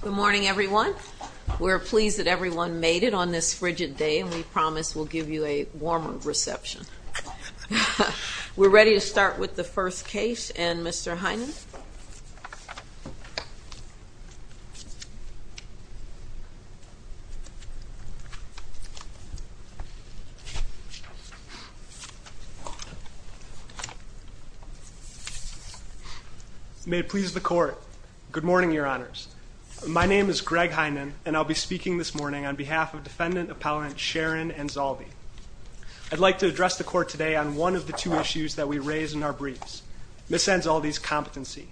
Good morning everyone. We're pleased that everyone made it on this frigid day and we promise we'll give you a warmer reception. We're ready to start with the hearing. May it please the court. Good morning your honors. My name is Greg Heinen and I'll be speaking this morning on behalf of defendant appellant Sharon Anzaldi. I'd like to address the court today on one of the two issues that we raised in our briefs. Ms. Anzaldi's competency.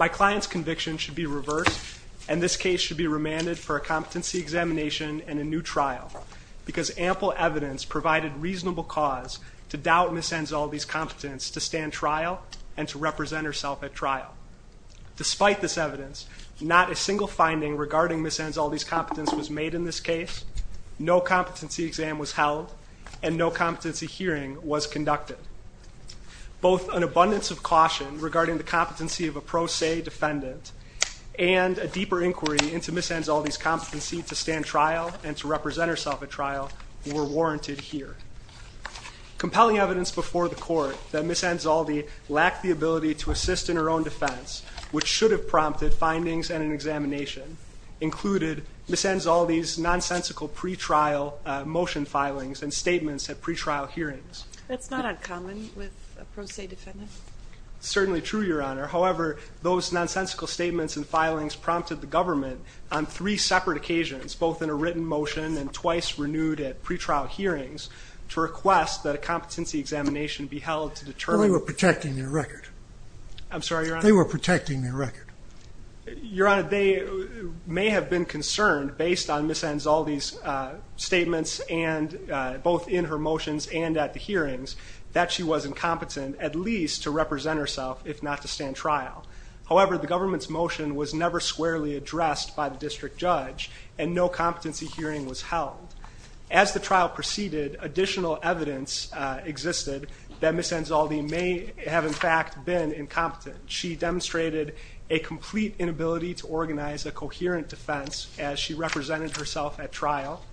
My client's conviction should be reversed and this case should be remanded for a competency examination and a new trial because ample evidence provided reasonable cause to doubt Ms. Anzaldi's competence to stand trial and to represent herself at trial. Despite this evidence not a single finding regarding Ms. Anzaldi's competence was made in this case. No competency exam was held and no hearing was conducted. Both an abundance of caution regarding the competency of a pro se defendant and a deeper inquiry into Ms. Anzaldi's competency to stand trial and to represent herself at trial were warranted here. Compelling evidence before the court that Ms. Anzaldi lacked the ability to assist in her own defense which should have prompted findings and an examination included Ms. Anzaldi's pre-trial hearings. That's not uncommon with a pro se defendant. Certainly true Your Honor. However those nonsensical statements and filings prompted the government on three separate occasions both in a written motion and twice renewed at pre-trial hearings to request that a competency examination be held to determine. They were protecting their record. I'm sorry Your Honor. They were protecting their record. Your hearings that she was incompetent at least to represent herself if not to stand trial. However the government's motion was never squarely addressed by the district judge and no competency hearing was held. As the trial proceeded additional evidence existed that Ms. Anzaldi may have in fact been incompetent. She demonstrated a complete inability to organize a coherent defense as she represented herself at her own trial.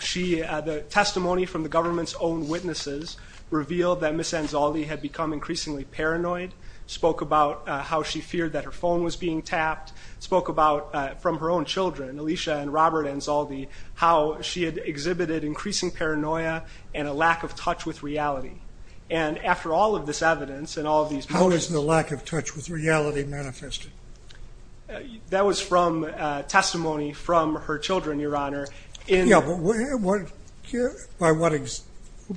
Her own witnesses revealed that Ms. Anzaldi had become increasingly paranoid. Spoke about how she feared that her phone was being tapped. Spoke about from her own children, Alicia and Robert Anzaldi, how she had exhibited increasing paranoia and a lack of touch with reality. And after all of this evidence and all of these motions. How is the lack of touch with reality manifested? That was from testimony from her children Your Honor. Yeah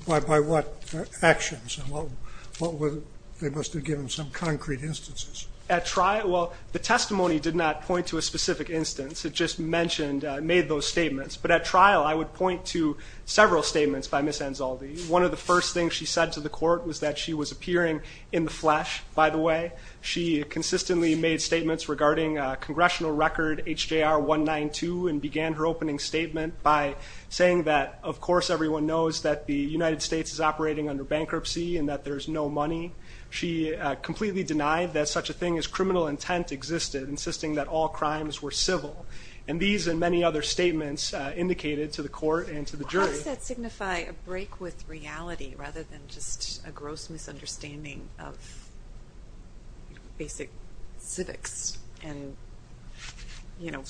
but by what actions? And what was it, they must give me some concrete instances. Well the testimony did not point to a specific instance. It just mentioned, made those statements but at trial I would point to several statements by Ms. Anzaldi. One of the first things she said to the court was that she was appearing in the flesh by the way. She consistently made statements regarding congressional record HJR 192 and began her opening statement by saying that of course everyone knows that the United States is operating under bankruptcy and that there's no money. She completely denied that such a thing as criminal intent existed, insisting that all crimes were civil. And these and many other statements indicated to the court and to the jury. How does that signify a break with reality rather than just a gross misunderstanding of basic civics? And you know,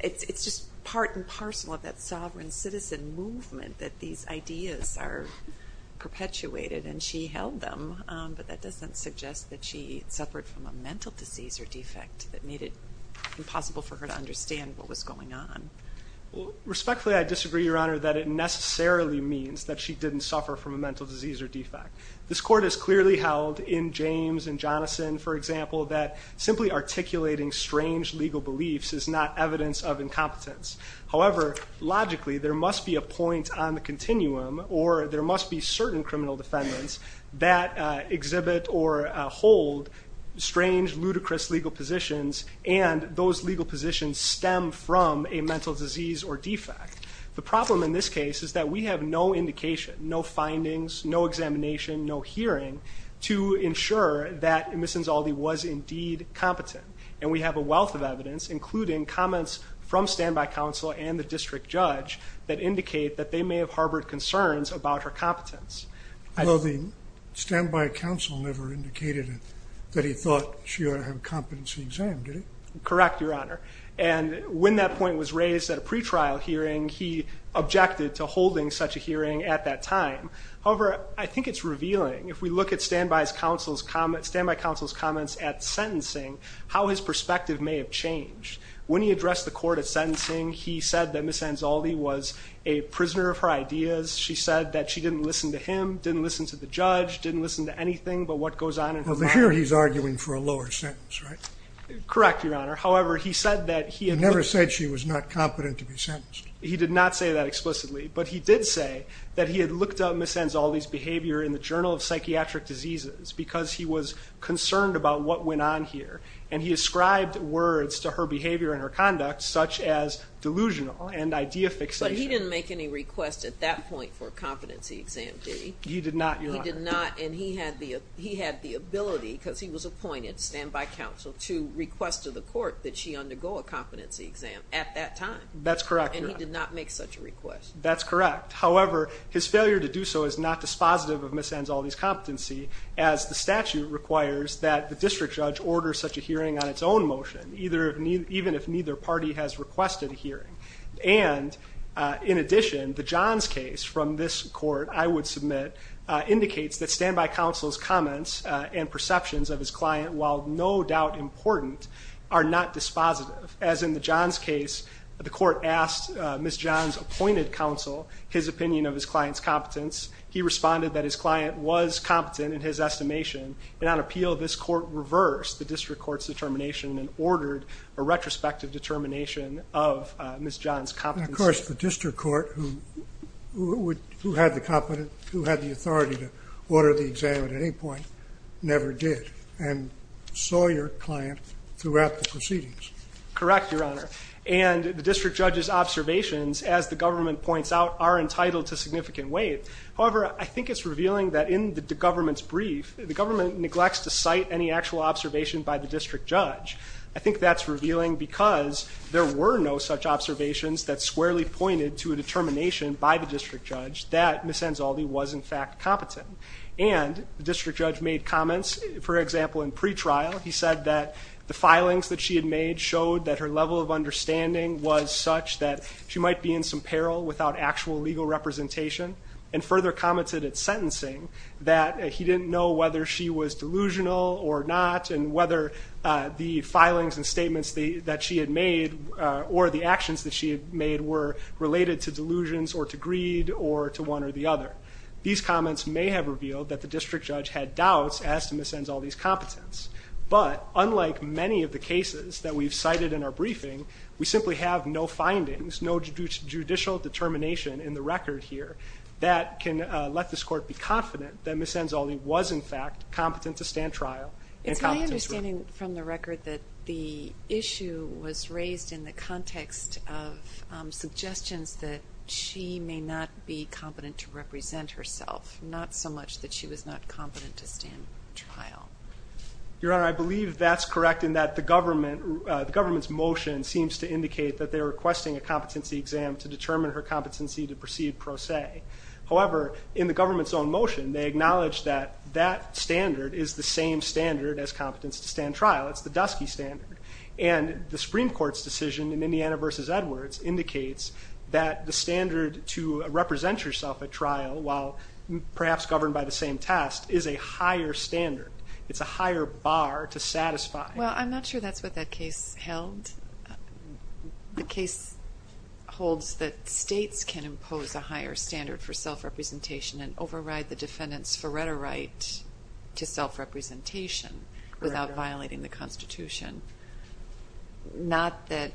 it's just part and parcel of that sovereign citizen movement that these ideas are perpetuated and she held them but that doesn't suggest that she suffered from a mental disease or defect that made it impossible for her to understand what was going on. Respectfully, I disagree, Your Honor, that it necessarily means that she didn't suffer from a mental disease or defect. This court has clearly held in James and Jonathan, for example, that simply articulating strange legal beliefs is not evidence of incompetence. However, logically there must be a point on the continuum or there must be certain criminal defendants that exhibit or hold strange, ludicrous legal positions and those legal positions stem from a mental disease or defect. The problem in this case is that we have no indication, no findings, no examination, no hearing to ensure that Ms. Insaldi was indeed competent. And we have a wealth of evidence, including comments from standby counsel and the district judge that indicate that they may have harbored concerns about her competence. Well, the standby counsel never indicated that he thought she ought to have a competency exam, did he? Correct, Your Honor. And when that point was raised at a pretrial hearing, he objected to holding such a hearing at that time. However, I think it's revealing if we look at standby counsel's comments at sentencing, how his perspective may have changed. When he addressed the court at sentencing, he said that Ms. Insaldi was a prisoner of her ideas. She said that she didn't listen to him, didn't listen to the judge, didn't listen to anything but what goes on in her mind. Well, but here he's arguing for a lower sentence, right? Correct, Your Honor. However, he said that he had... He never said she was not competent to be sentenced. He did not say that explicitly, but he did say that he had looked up Ms. Insaldi's behavior in the Journal of Psychiatric Diseases because he was concerned about what went on here. And he ascribed words to her behavior and her conduct, such as delusional and idea fixation. But he didn't make any requests at that point for a competency exam, did he? He did not, Your Honor. He did not, and he had the ability, because he was appointed standby counsel, to request to the court that she undergo a competency exam at that time. That's correct, Your Honor. And he did not make such a request. That's correct. However, his failure to do so is not dispositive of Ms. Insaldi's competency, as the statute requires that the district judge order such a hearing on its own motion, even if neither party has requested a hearing. And in addition, the Johns case from this court, I would submit, indicates that standby counsel's comments and perceptions of his client, while no doubt important, are not dispositive. As in the Johns case, the court asked Ms. Johns' appointed counsel his opinion of his client's competence. He responded that his client was competent in his estimation. And on appeal, this court reversed the district court's determination and ordered a retrospective determination of Ms. Johns' competency. Of course, the district court, who had the authority to order the exam at any point, never did, and saw your client throughout the proceedings. Correct, Your Honor. And the district judge's observations, as the government points out, are entitled to significant weight. However, I think it's revealing that in the government's brief, the government neglects to cite any actual observation by the district judge. I think that's revealing because there were no such observations that squarely pointed to a determination by the district judge that Ms. Insaldi was, in fact, competent. And the district judge made comments, for example, in pretrial. He said that the filings that she had made showed that her level of understanding was such that she might be in some peril without actual legal representation, and further commented at sentencing that he didn't know whether she was delusional or not, and whether the filings and statements that she had made or the actions that she had made were related to delusions or to greed or to one or the other. These comments may have revealed that the district judge had doubts as to Ms. Insaldi's competence. But unlike many of the cases that we've cited in our briefing, we simply have no findings, no judicial determination in the record here that can let this court be confident that Ms. Insaldi was, in fact, competent to stand trial. It's my understanding from the record that the issue was raised in the context of suggestions that she may not be competent to represent herself, not so much that she was not competent to stand trial. Your Honor, I believe that's correct in that the government's motion seems to indicate that they're requesting a competency exam to determine her competency to proceed pro se. However, in the government's own motion, they acknowledge that that standard is the same standard as competence to stand trial. It's the Dusky Standard. And the Supreme Court's decision in Indiana v. Edwards indicates that the standard to represent yourself at trial, while perhaps governed by the same test, is a higher standard. It's a higher bar to satisfy. Well, I'm not sure that's what that case held. The case holds that states can impose a higher standard for self-representation and override the defendant's Faretta right to self-representation without violating the Constitution, not that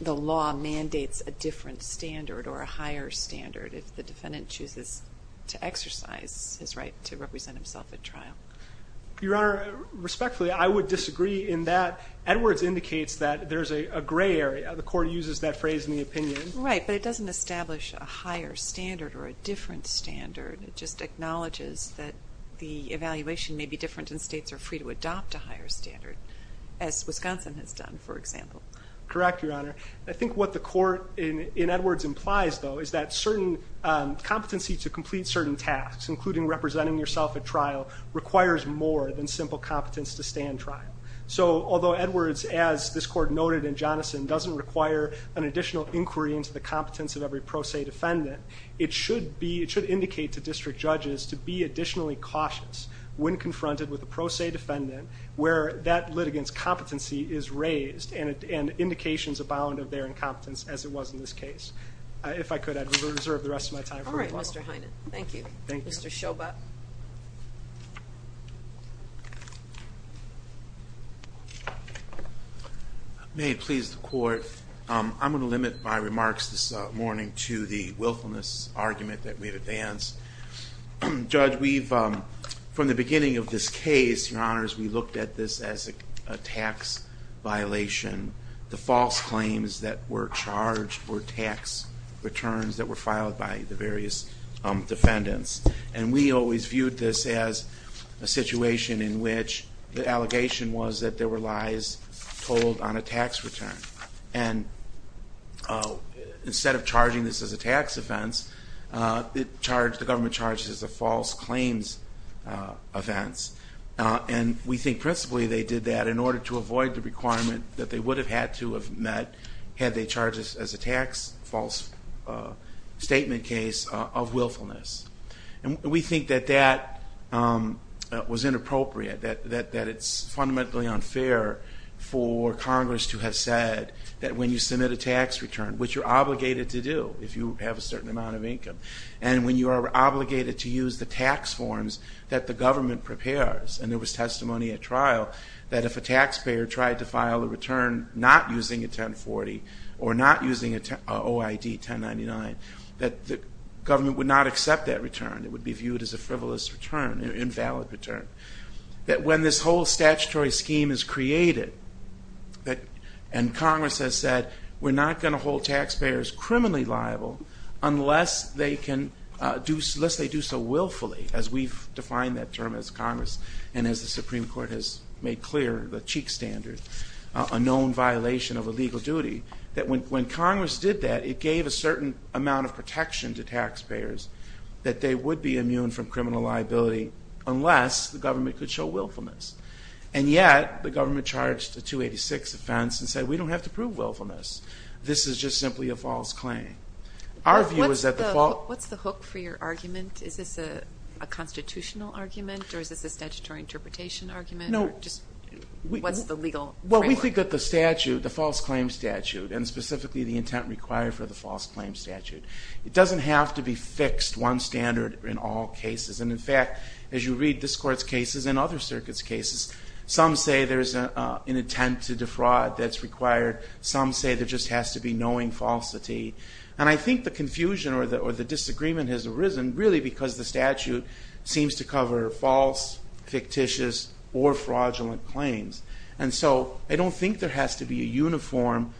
the law mandates a different standard or a higher standard if the defendant chooses to exercise his right to represent himself at trial. Your Honor, respectfully, I would disagree in that. Edwards indicates that there's a gray area. The Court uses that phrase in the opinion. Right, but it doesn't establish a higher standard or a different standard. It just acknowledges that the evaluation may be different and states are free to adopt a higher standard, as Wisconsin has done, for example. Correct, Your Honor. I think what the Court in Edwards implies, though, is that certain competency to complete certain tasks, including representing yourself at trial, requires more than simple competence to stand trial. So although Edwards, as this Court noted in Jonathan, doesn't require an additional inquiry into the competence of every pro se defendant, it should indicate to district judges to be additionally cautious when confronted with a pro se defendant where that litigant's competency is raised and indications abound of their incompetence, as it was in this case. If I could, I'd reserve the rest of my time for rebuttal. All right, Mr. Heinen. Thank you. Thank you. Mr. Schobot. May it please the Court, I'm going to limit my remarks this morning to the willfulness argument that we've advanced. Judge, from the beginning of this case, Your Honors, we looked at this as a tax violation. The false claims that were charged were tax returns that were filed by the various defendants. And we always viewed this as a situation in which the allegation was that there were lies told on a tax return. And instead of charging this as a tax offense, the government charged it as a false claims offense. And we think principally they did that in order to avoid the requirement that they would have had to have met had they charged this as a tax false statement case of willfulness. And we think that that was inappropriate, that it's fundamentally unfair for Congress to have said that when you submit a tax return, which you're obligated to do if you have a certain amount of income, and when you are obligated to use the tax forms that the government prepares, and there was testimony at trial, that if a taxpayer tried to file a return not using a 1040 or not using an OID 1099, that the government would not accept that return. It would be viewed as a frivolous return, an invalid return. That when this whole statutory scheme is created, and Congress has said, we're not going to hold taxpayers criminally liable unless they do so willfully, as we've defined that term as Congress, and as the Supreme Court has made clear, the Cheek Standard, a known violation of a legal duty. That when Congress did that, it gave a certain amount of protection to taxpayers that they would be immune from criminal liability unless the government could show willfulness. And yet, the government charged a 286 offense and said, we don't have to prove willfulness. This is just simply a false claim. Our view is that the false – What's the hook for your argument? Is this a constitutional argument or is this a statutory interpretation argument? No. Or just what's the legal framework? Well, we think that the statute, the false claim statute, and specifically the intent required for the false claim statute, it doesn't have to be fixed one standard in all cases. And in fact, as you read this Court's cases and other circuits' cases, some say there's an intent to defraud that's required. Some say there just has to be knowing falsity. And I think the confusion or the disagreement has arisen really because the statute seems to cover false, fictitious, or fraudulent claims. And so I don't think there has to be a uniform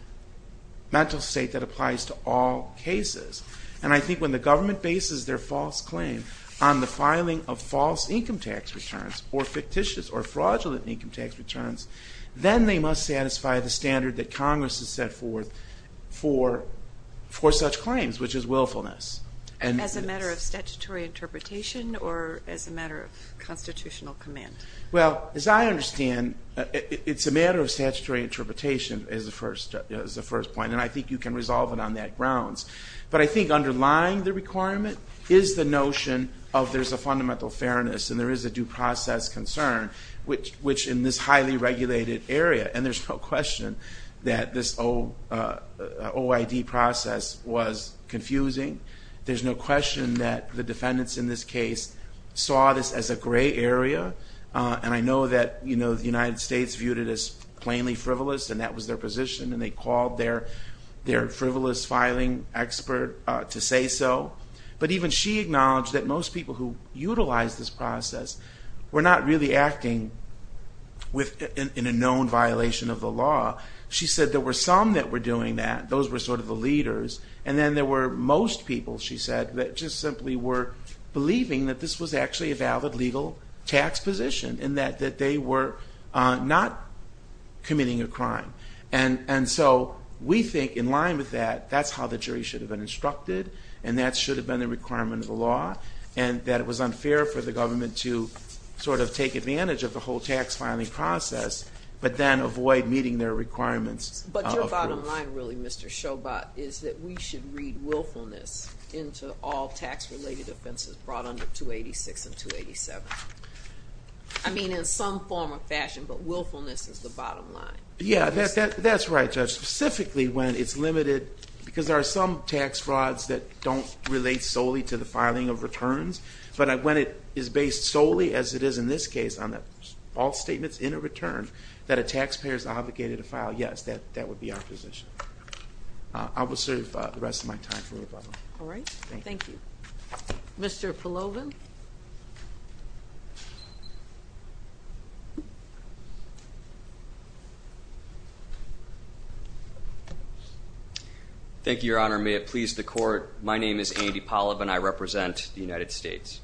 mental state that applies to all cases. And I think when the government bases their false claim on the filing of false income tax returns or fictitious or fraudulent income tax returns, then they must satisfy the standard that Congress has set forth for such claims, which is willfulness. As a matter of statutory interpretation or as a matter of constitutional command? Well, as I understand, it's a matter of statutory interpretation is the first point, and I think you can resolve it on that grounds. But I think underlying the requirement is the notion of there's a fundamental fairness and there is a due process concern, which in this highly regulated area, and there's no question that this OID process was confusing. There's no question that the defendants in this case saw this as a gray area. And I know that the United States viewed it as plainly frivolous, and that was their position, and they called their frivolous filing expert to say so. But even she acknowledged that most people who utilized this process were not really acting in a known violation of the law. She said there were some that were doing that. Those were sort of the leaders. And then there were most people, she said, that just simply were believing that this was actually a valid legal tax position and that they were not committing a crime. And so we think in line with that, that's how the jury should have been instructed, and that should have been the requirement of the law, and that it was unfair for the government to sort of take advantage of the whole tax filing process but then avoid meeting their requirements of proof. But your bottom line really, Mr. Schobot, is that we should read willfulness into all tax-related offenses brought under 286 and 287. I mean in some form or fashion, but willfulness is the bottom line. Yeah, that's right, Judge. Specifically when it's limited, because there are some tax frauds that don't relate solely to the filing of returns, but when it is based solely, as it is in this case, on all statements in a return, that a taxpayer is obligated to file, yes, that would be our position. I will serve the rest of my time for rebuttal. All right. Thank you. Mr. Polovin. Thank you, Your Honor. May it please the Court, my name is Andy Polovin. I represent the United States.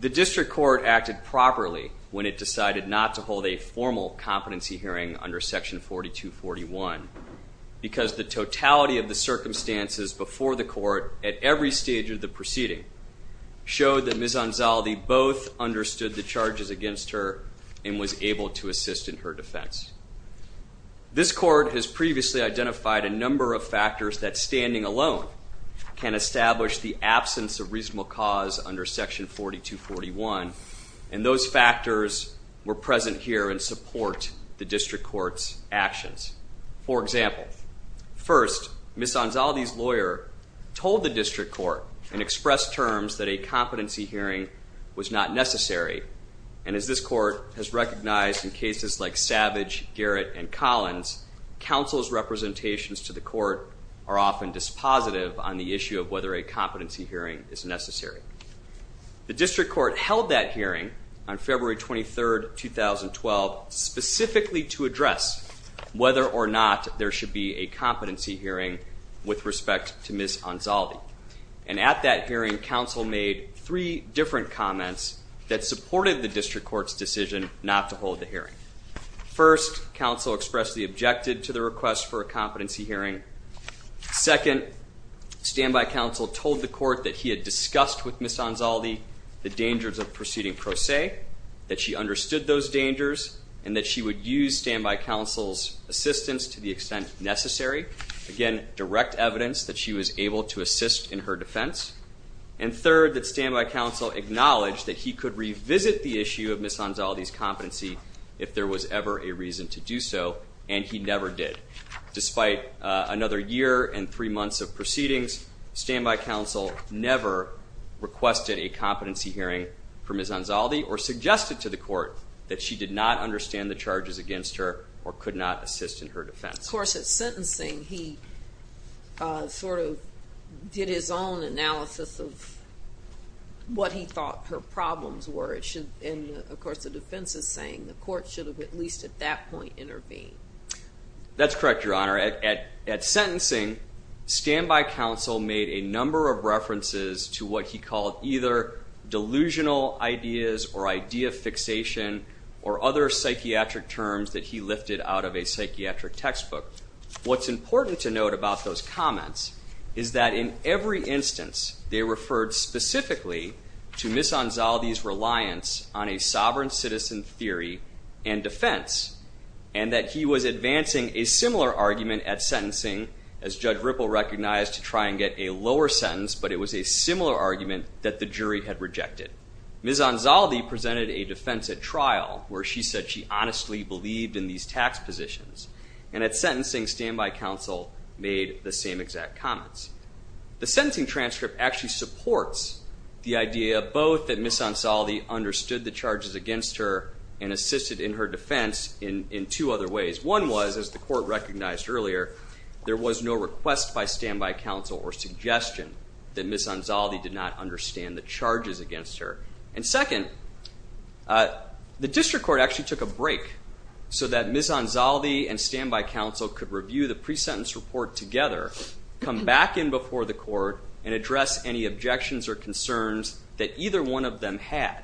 The District Court acted properly when it decided not to hold a formal competency hearing under Section 4241 because the totality of the circumstances before the Court at every stage of the proceeding showed that Ms. Anzaldi both understood the charges against her and was able to assist in her defense. This Court has previously identified a number of factors that standing alone can establish the absence of reasonable cause under Section 4241, and those factors were present here and support the District Court's actions. For example, first, Ms. Anzaldi's lawyer told the District Court and expressed terms that a competency hearing was not necessary, and as this Court has recognized in cases like Savage, Garrett, and Collins, counsel's representations to the Court are often dispositive on the issue of whether a competency hearing is necessary. The District Court held that hearing on February 23, 2012, specifically to address whether or not there should be a competency hearing with respect to Ms. Anzaldi, and at that hearing, counsel made three different comments that supported the District Court's decision not to hold the hearing. First, counsel expressed the objective to the request for a competency hearing. Second, standby counsel told the Court that he had discussed with Ms. Anzaldi the dangers of proceeding pro se, that she understood those dangers, and that she would use standby counsel's assistance to the extent necessary. Again, direct evidence that she was able to assist in her defense. And third, that standby counsel acknowledged that he could revisit the issue of Ms. Anzaldi's competency if there was ever a reason to do so, and he never did. Despite another year and three months of proceedings, standby counsel never requested a competency hearing for Ms. Anzaldi or suggested to the Court that she did not understand the charges against her or could not assist in her defense. Of course, at sentencing, he sort of did his own analysis of what he thought her problems were. And, of course, the defense is saying the Court should have at least at that point intervened. That's correct, Your Honor. At sentencing, standby counsel made a number of references to what he called either delusional ideas or idea fixation or other psychiatric terms that he lifted out of a psychiatric textbook. What's important to note about those comments is that in every instance, they referred specifically to Ms. Anzaldi's reliance on a sovereign citizen theory and defense, and that he was advancing a similar argument at sentencing, as Judge Ripple recognized, to try and get a lower sentence, but it was a similar argument that the jury had rejected. Ms. Anzaldi presented a defense at trial where she said she honestly believed in these tax positions. And at sentencing, standby counsel made the same exact comments. The sentencing transcript actually supports the idea both that Ms. Anzaldi understood the charges against her and assisted in her defense in two other ways. One was, as the Court recognized earlier, there was no request by standby counsel or suggestion that Ms. Anzaldi did not understand the charges against her. And second, the District Court actually took a break so that Ms. Anzaldi and standby counsel could review the pre-sentence report together, come back in before the Court, and address any objections or concerns that either one of them had.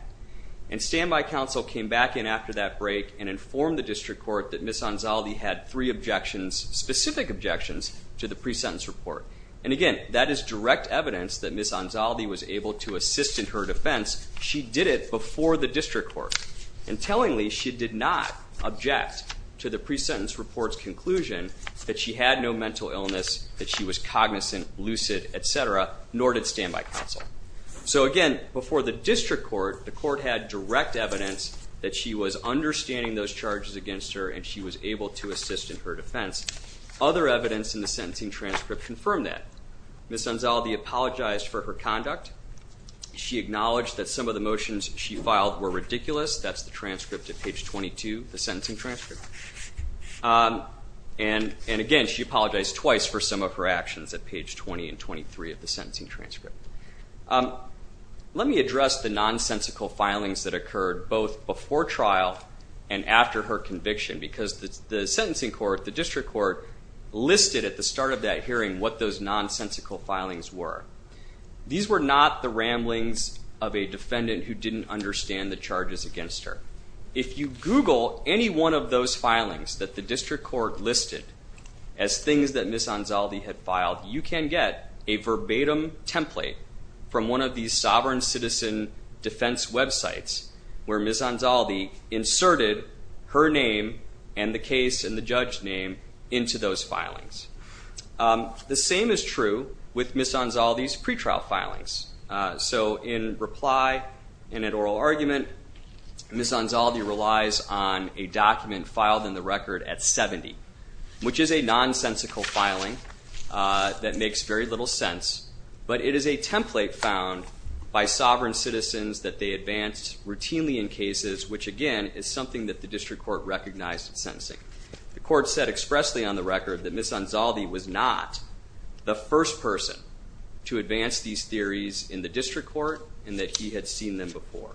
And standby counsel came back in after that break and informed the District Court that Ms. Anzaldi had three objections, specific objections, to the pre-sentence report. And again, that is direct evidence that Ms. Anzaldi was able to assist in her defense. She did it before the District Court. And tellingly, she did not object to the pre-sentence report's conclusion that she had no mental illness, that she was cognizant, lucid, et cetera, nor did standby counsel. So again, before the District Court, the Court had direct evidence that she was understanding those charges against her and she was able to assist in her defense. Other evidence in the sentencing transcript confirmed that. Ms. Anzaldi apologized for her conduct. She acknowledged that some of the motions she filed were ridiculous. That's the transcript at page 22, the sentencing transcript. And again, she apologized twice for some of her actions at page 20 and 23 of the sentencing transcript. Let me address the nonsensical filings that occurred both before trial and after her conviction because the sentencing court, the District Court, listed at the start of that hearing what those nonsensical filings were. These were not the ramblings of a defendant who didn't understand the charges against her. If you Google any one of those filings that the District Court listed as things that Ms. Anzaldi had filed, you can get a verbatim template from one of these sovereign citizen defense websites where Ms. Anzaldi inserted her name and the case and the judge's name into those filings. The same is true with Ms. Anzaldi's pretrial filings. So in reply and in oral argument, Ms. Anzaldi relies on a document filed in the record at 70, which is a nonsensical filing that makes very little sense, but it is a template found by sovereign citizens that they advance routinely in cases, which, again, is something that the District Court recognized in sentencing. The court said expressly on the record that Ms. Anzaldi was not the first person to advance these theories in the District Court and that he had seen them before.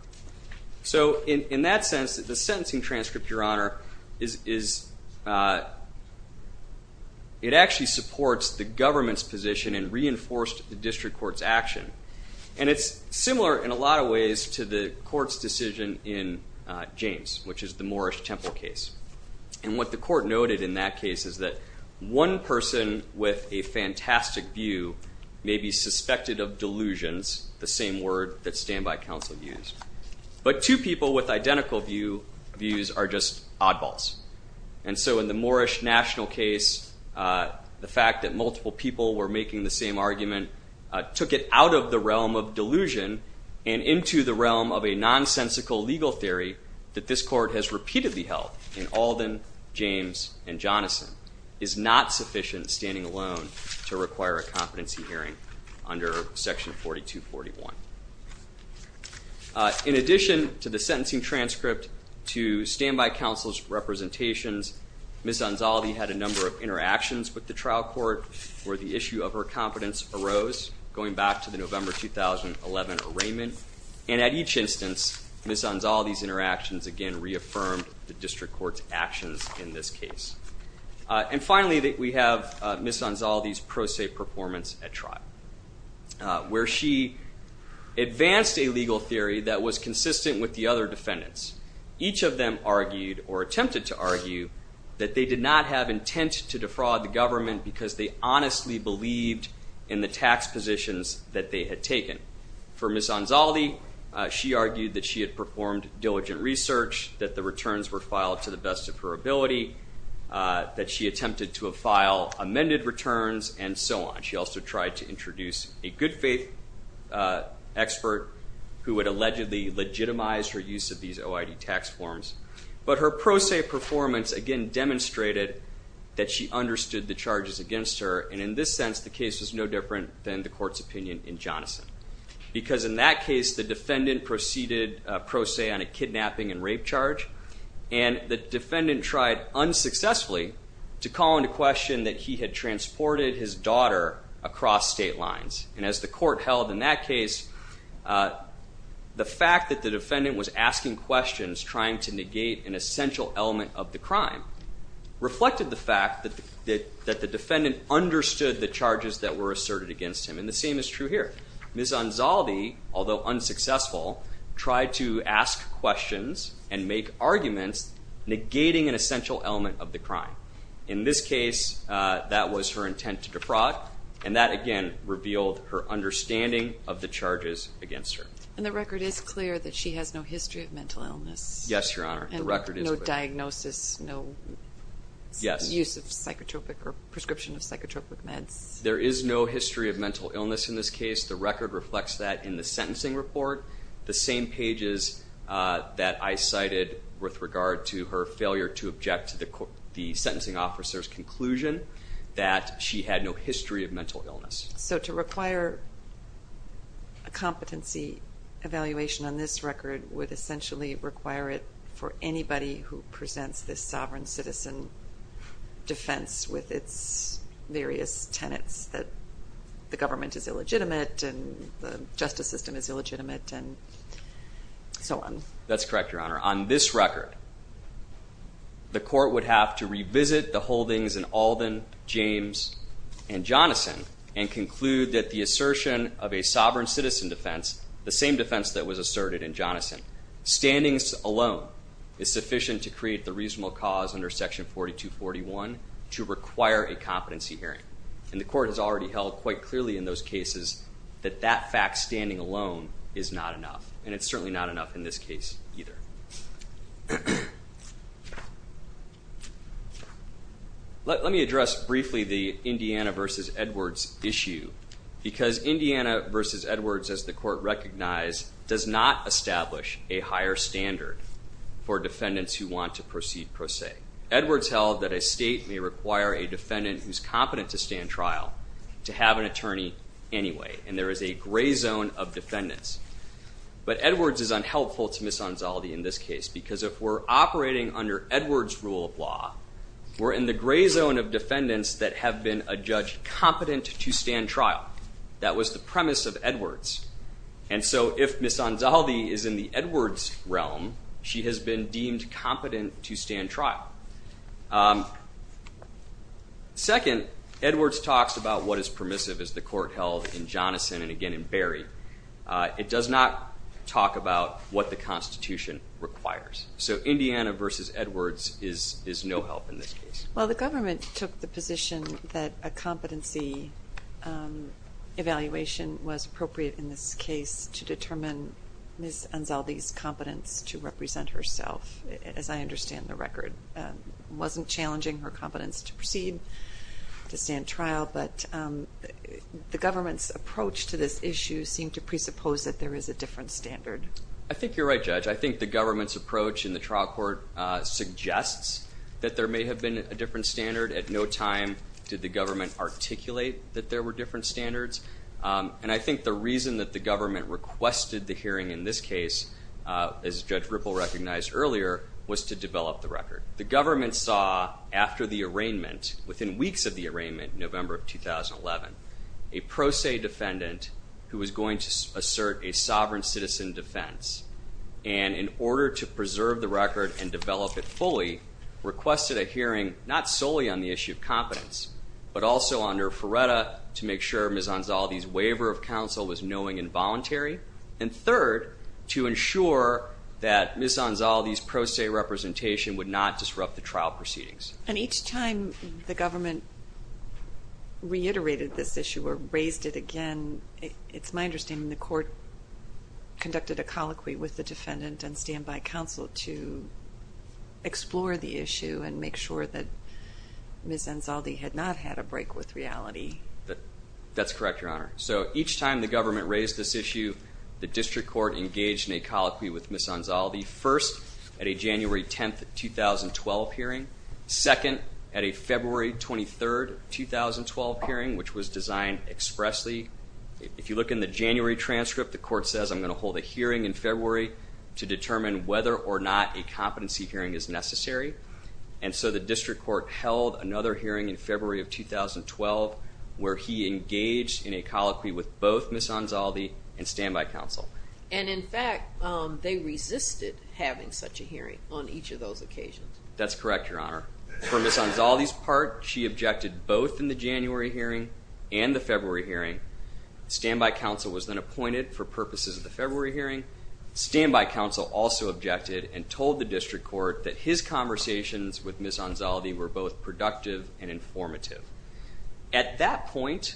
So in that sense, the sentencing transcript, Your Honor, it actually supports the government's position and reinforced the District Court's action. And it's similar in a lot of ways to the court's decision in James, which is the Moorish Temple case. And what the court noted in that case is that one person with a fantastic view may be suspected of delusions, the same word that standby counsel used, but two people with identical views are just oddballs. And so in the Moorish National case, the fact that multiple people were making the same argument took it out of the realm of delusion and into the realm of a nonsensical legal theory that this court has repeatedly held in Alden, James, and Jonathan is not sufficient standing alone to require a competency hearing under Section 4241. In addition to the sentencing transcript to standby counsel's representations, Ms. Anzaldi had a number of interactions with the trial court where the issue of her competence arose, going back to the November 2011 arraignment. And at each instance, Ms. Anzaldi's interactions, again, And finally, we have Ms. Anzaldi's pro se performance at trial where she advanced a legal theory that was consistent with the other defendants. Each of them argued or attempted to argue that they did not have intent to defraud the government because they honestly believed in the tax positions that they had taken. For Ms. Anzaldi, she argued that she had performed diligent research, that the returns were filed to the best of her ability, that she attempted to file amended returns, and so on. She also tried to introduce a good faith expert who had allegedly legitimized her use of these OID tax forms. But her pro se performance, again, demonstrated that she understood the charges against her, and in this sense, the case was no different than the court's opinion in Jonathan. Because in that case, the defendant proceeded pro se on a kidnapping and rape charge, and the defendant tried unsuccessfully to call into question that he had transported his daughter across state lines. And as the court held in that case, the fact that the defendant was asking questions trying to negate an essential element of the crime reflected the fact that the defendant understood the charges that were asserted against him. And the same is true here. Ms. Anzaldi, although unsuccessful, tried to ask questions and make arguments negating an essential element of the crime. In this case, that was her intent to defraud, and that, again, revealed her understanding of the charges against her. And the record is clear that she has no history of mental illness? Yes, Your Honor. And no diagnosis, no use of psychotropic or prescription of psychotropic meds? There is no history of mental illness in this case. The record reflects that in the sentencing report. The same pages that I cited with regard to her failure to object to the sentencing officer's conclusion that she had no history of mental illness. So to require a competency evaluation on this record would essentially require it for anybody who presents this sovereign citizen defense with its various tenets that the government is illegitimate and the justice system is illegitimate and so on. That's correct, Your Honor. On this record, the court would have to revisit the holdings in Alden, James, and Jonathan and conclude that the assertion of a sovereign citizen defense, standings alone is sufficient to create the reasonable cause under Section 4241 to require a competency hearing. And the court has already held quite clearly in those cases that that fact, standing alone, is not enough. And it's certainly not enough in this case either. Let me address briefly the Indiana v. Edwards issue because Indiana v. Edwards, as the court recognized, does not establish a higher standard for defendants who want to proceed pro se. Edwards held that a state may require a defendant who's competent to stand trial to have an attorney anyway. And there is a gray zone of defendants. But Edwards is unhelpful to Ms. Anzaldi in this case We're in the gray zone of defendants that have been adjudged competent to stand trial. That was the premise of Edwards. And so if Ms. Anzaldi is in the Edwards realm, she has been deemed competent to stand trial. Second, Edwards talks about what is permissive, as the court held in Jonathan and again in Barry. It does not talk about what the Constitution requires. So Indiana v. Edwards is no help in this case. Well, the government took the position that a competency evaluation was appropriate in this case to determine Ms. Anzaldi's competence to represent herself, as I understand the record. It wasn't challenging her competence to proceed to stand trial, but the government's approach to this issue seemed to presuppose that there is a different standard. I think you're right, Judge. I think the government's approach in the trial court suggests that there may have been a different standard. At no time did the government articulate that there were different standards. And I think the reason that the government requested the hearing in this case, as Judge Ripple recognized earlier, was to develop the record. The government saw after the arraignment, within weeks of the arraignment, November of 2011, a pro se defendant who was going to assert a sovereign citizen defense. And in order to preserve the record and develop it fully, requested a hearing not solely on the issue of competence, but also under FRERTA to make sure Ms. Anzaldi's waiver of counsel was knowing and voluntary, and third, to ensure that Ms. Anzaldi's pro se representation would not disrupt the trial proceedings. And each time the government reiterated this issue or raised it again, it's my understanding the court conducted a colloquy with the defendant and standby counsel to explore the issue and make sure that Ms. Anzaldi had not had a break with reality. That's correct, Your Honor. So each time the government raised this issue, the district court engaged in a colloquy with Ms. Anzaldi, first at a January 10, 2012 hearing, second at a February 23, 2012 hearing, which was designed expressly. If you look in the January transcript, the court says, I'm going to hold a hearing in February to determine whether or not a competency hearing is necessary. And so the district court held another hearing in February of 2012, where he engaged in a colloquy with both Ms. Anzaldi and standby counsel. And, in fact, they resisted having such a hearing on each of those occasions. That's correct, Your Honor. For Ms. Anzaldi's part, she objected both in the January hearing and the February hearing. Standby counsel was then appointed for purposes of the February hearing. Standby counsel also objected and told the district court that his conversations with Ms. Anzaldi were both productive and informative. At that point,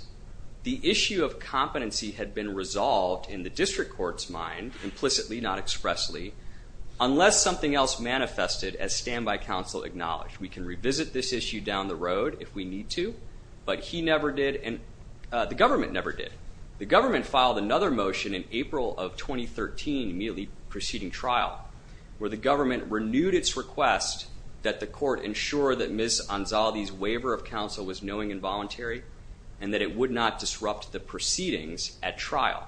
the issue of competency had been resolved in the district court's mind, implicitly, not expressly, unless something else manifested, as standby counsel acknowledged. We can revisit this issue down the road if we need to, but he never did and the government never did. The government filed another motion in April of 2013, immediately preceding trial, where the government renewed its request that the court ensure that Ms. Anzaldi's waiver of counsel was knowing and voluntary and that it would not disrupt the proceedings at trial.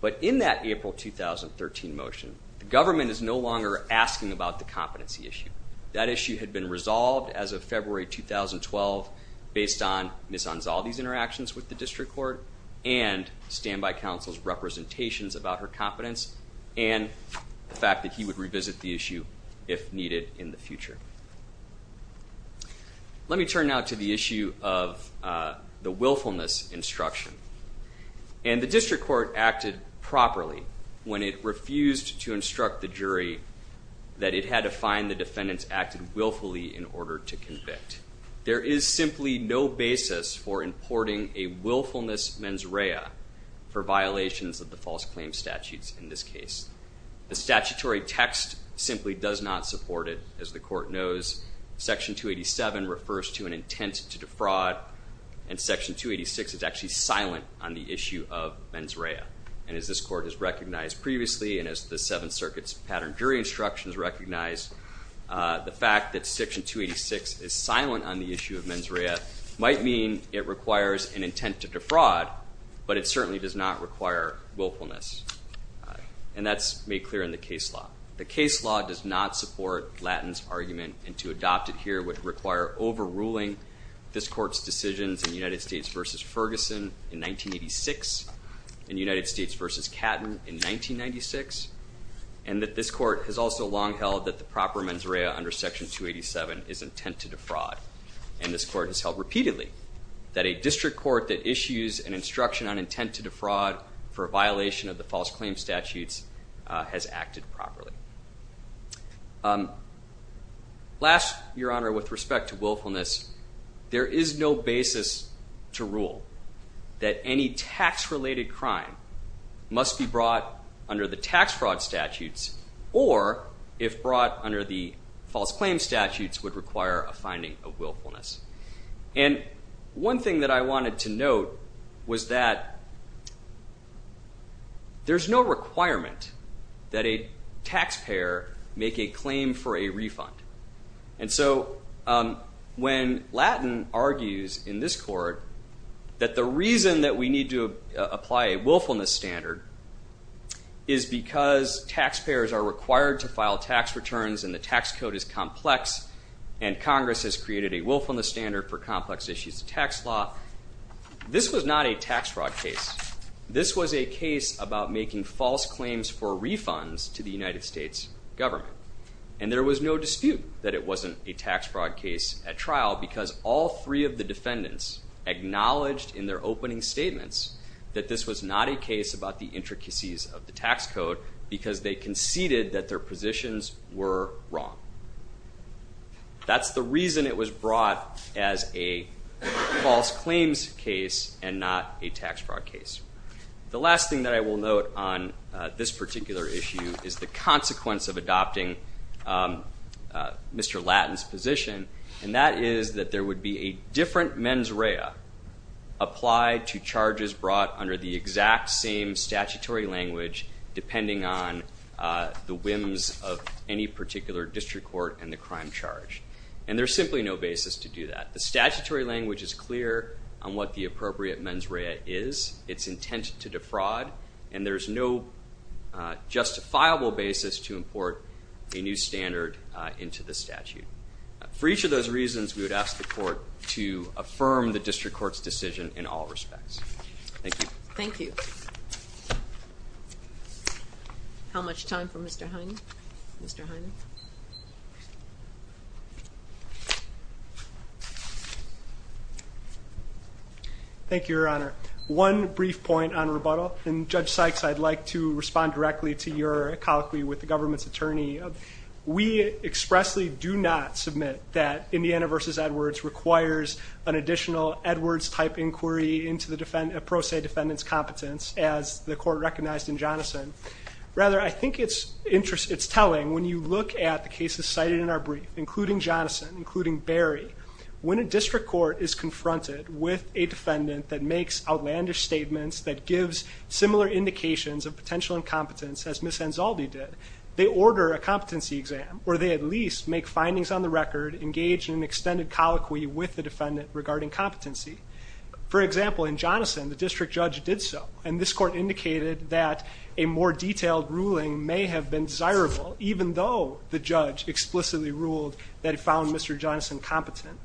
But in that April 2013 motion, the government is no longer asking about the competency issue. That issue had been resolved as of February 2012 based on Ms. Anzaldi's interactions with the district court and standby counsel's representations about her competence and the fact that he would revisit the issue if needed in the future. Let me turn now to the issue of the willfulness instruction. And the district court acted properly when it refused to instruct the jury that it had to find the defendants acted willfully in order to convict. There is simply no basis for importing a willfulness mens rea for violations of the false claim statutes in this case. The statutory text simply does not support it. As the court knows, Section 287 refers to an intent to defraud, and Section 286 is actually silent on the issue of mens rea. And as this court has recognized previously and as the Seventh Circuit's pattern jury instructions recognize, the fact that Section 286 is silent on the issue of mens rea might mean it requires an intent to defraud, but it certainly does not require willfulness. And that's made clear in the case law. The case law does not support Lattin's argument, and to adopt it here would require overruling this court's decisions in United States v. Ferguson in 1986 and United States v. Catton in 1996, and that this court has also long held that the proper mens rea under Section 287 is intent to defraud. And this court has held repeatedly that a district court that issues an instruction on intent to defraud for a violation of the false claim statutes has acted properly. Last, Your Honor, with respect to willfulness, there is no basis to rule that any tax-related crime must be brought under the tax fraud statutes or, if brought under the false claim statutes, would require a finding of willfulness. And one thing that I wanted to note was that there's no requirement that a taxpayer make a claim for a refund. And so when Lattin argues in this court that the reason that we need to apply a willfulness standard is because taxpayers are required to file tax returns and the tax code is complex and Congress has created a willfulness standard for complex issues of tax law, this was not a tax fraud case. This was a case about making false claims for refunds to the United States government. And there was no dispute that it wasn't a tax fraud case at trial because all three of the defendants acknowledged in their opening statements that this was not a case about the intricacies of the tax code because they conceded that their positions were wrong. That's the reason it was brought as a false claims case and not a tax fraud case. The last thing that I will note on this particular issue is the consequence of adopting Mr. Lattin's position, and that is that there would be a different mens rea applied to charges brought under the exact same statutory language depending on the whims of any particular district court and the crime charge. And there's simply no basis to do that. The statutory language is clear on what the appropriate mens rea is. It's intended to defraud, and there's no justifiable basis to import a new standard into the statute. For each of those reasons, we would ask the court to affirm the district court's decision in all respects. Thank you. Thank you. How much time for Mr. Heine? Mr. Heine. Thank you, Your Honor. One brief point on rebuttal, and Judge Sykes, I'd like to respond directly to your colloquy with the government's attorney. We expressly do not submit that Indiana v. Edwards requires an additional Edwards-type inquiry into the pro se defendant's competence as the court recognized in Jonathan. Rather, I think it's telling when you look at the cases cited in our brief, including Jonathan, including Barry. When a district court is confronted with a defendant that makes outlandish statements, that gives similar indications of potential incompetence as Ms. Anzaldi did, they order a competency exam, or they at least make findings on the record, engage in an extended colloquy with the defendant regarding competency. For example, in Jonathan, the district judge did so, and this court indicated that a more detailed ruling may have been desirable, even though the judge explicitly ruled that it found Mr. Jonathan competent.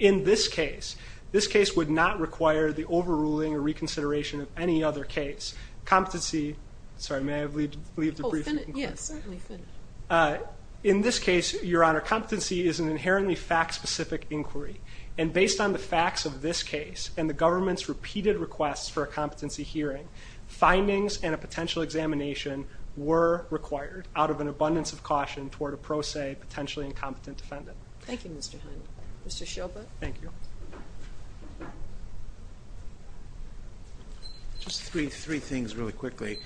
In this case, this case would not require the overruling or reconsideration of any other case. Competency, sorry, may I leave the briefing? Yes, certainly. In this case, Your Honor, competency is an inherently fact-specific inquiry, and based on the facts of this case and the government's repeated requests for a competency hearing, findings and a potential examination were required out of an abundance of caution toward a pro se, potentially incompetent defendant. Thank you, Mr. Hunt. Mr. Shilbert. Thank you. Just three things really quickly.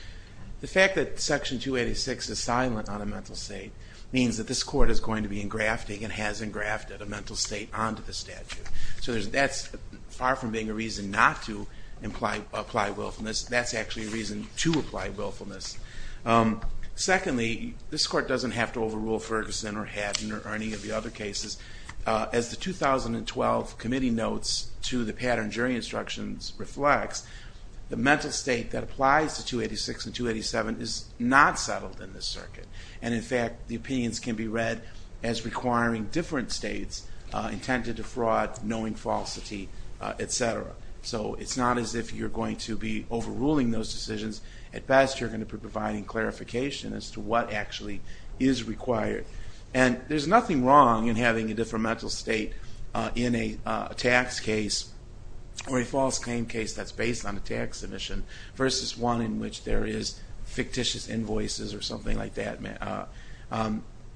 The fact that Section 286 is silent on a mental state means that this court is going to be engrafting and has engrafted a mental state onto the statute. So that's far from being a reason not to apply willfulness. That's actually a reason to apply willfulness. Secondly, this court doesn't have to overrule Ferguson or Haddon or any of the other cases. As the 2012 committee notes to the pattern jury instructions reflects, the mental state that applies to 286 and 287 is not settled in this circuit. And, in fact, the opinions can be read as requiring different states intended to fraud, knowing falsity, et cetera. So it's not as if you're going to be overruling those decisions. At best, you're going to be providing clarification as to what actually is required. And there's nothing wrong in having a different mental state in a tax case or a false claim case that's based on a tax submission versus one in which there is fictitious invoices or something like that.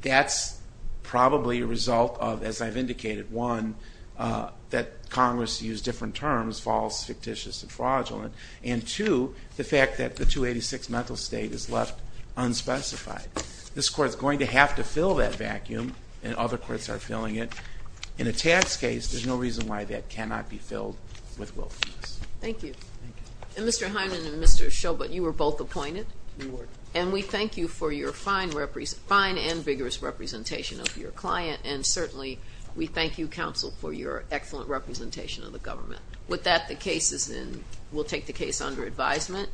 That's probably a result of, as I've indicated, one, that Congress used different terms, false, fictitious, and fraudulent, and two, the fact that the 286 mental state is left unspecified. This court is going to have to fill that vacuum, and other courts are filling it. In a tax case, there's no reason why that cannot be filled with willfulness. Thank you. And Mr. Hyndman and Mr. Schobot, you were both appointed. We were. And we thank you for your fine and vigorous representation of your client, and certainly we thank you, counsel, for your excellent representation of the government. With that, the case is in. We'll take the case under advisement.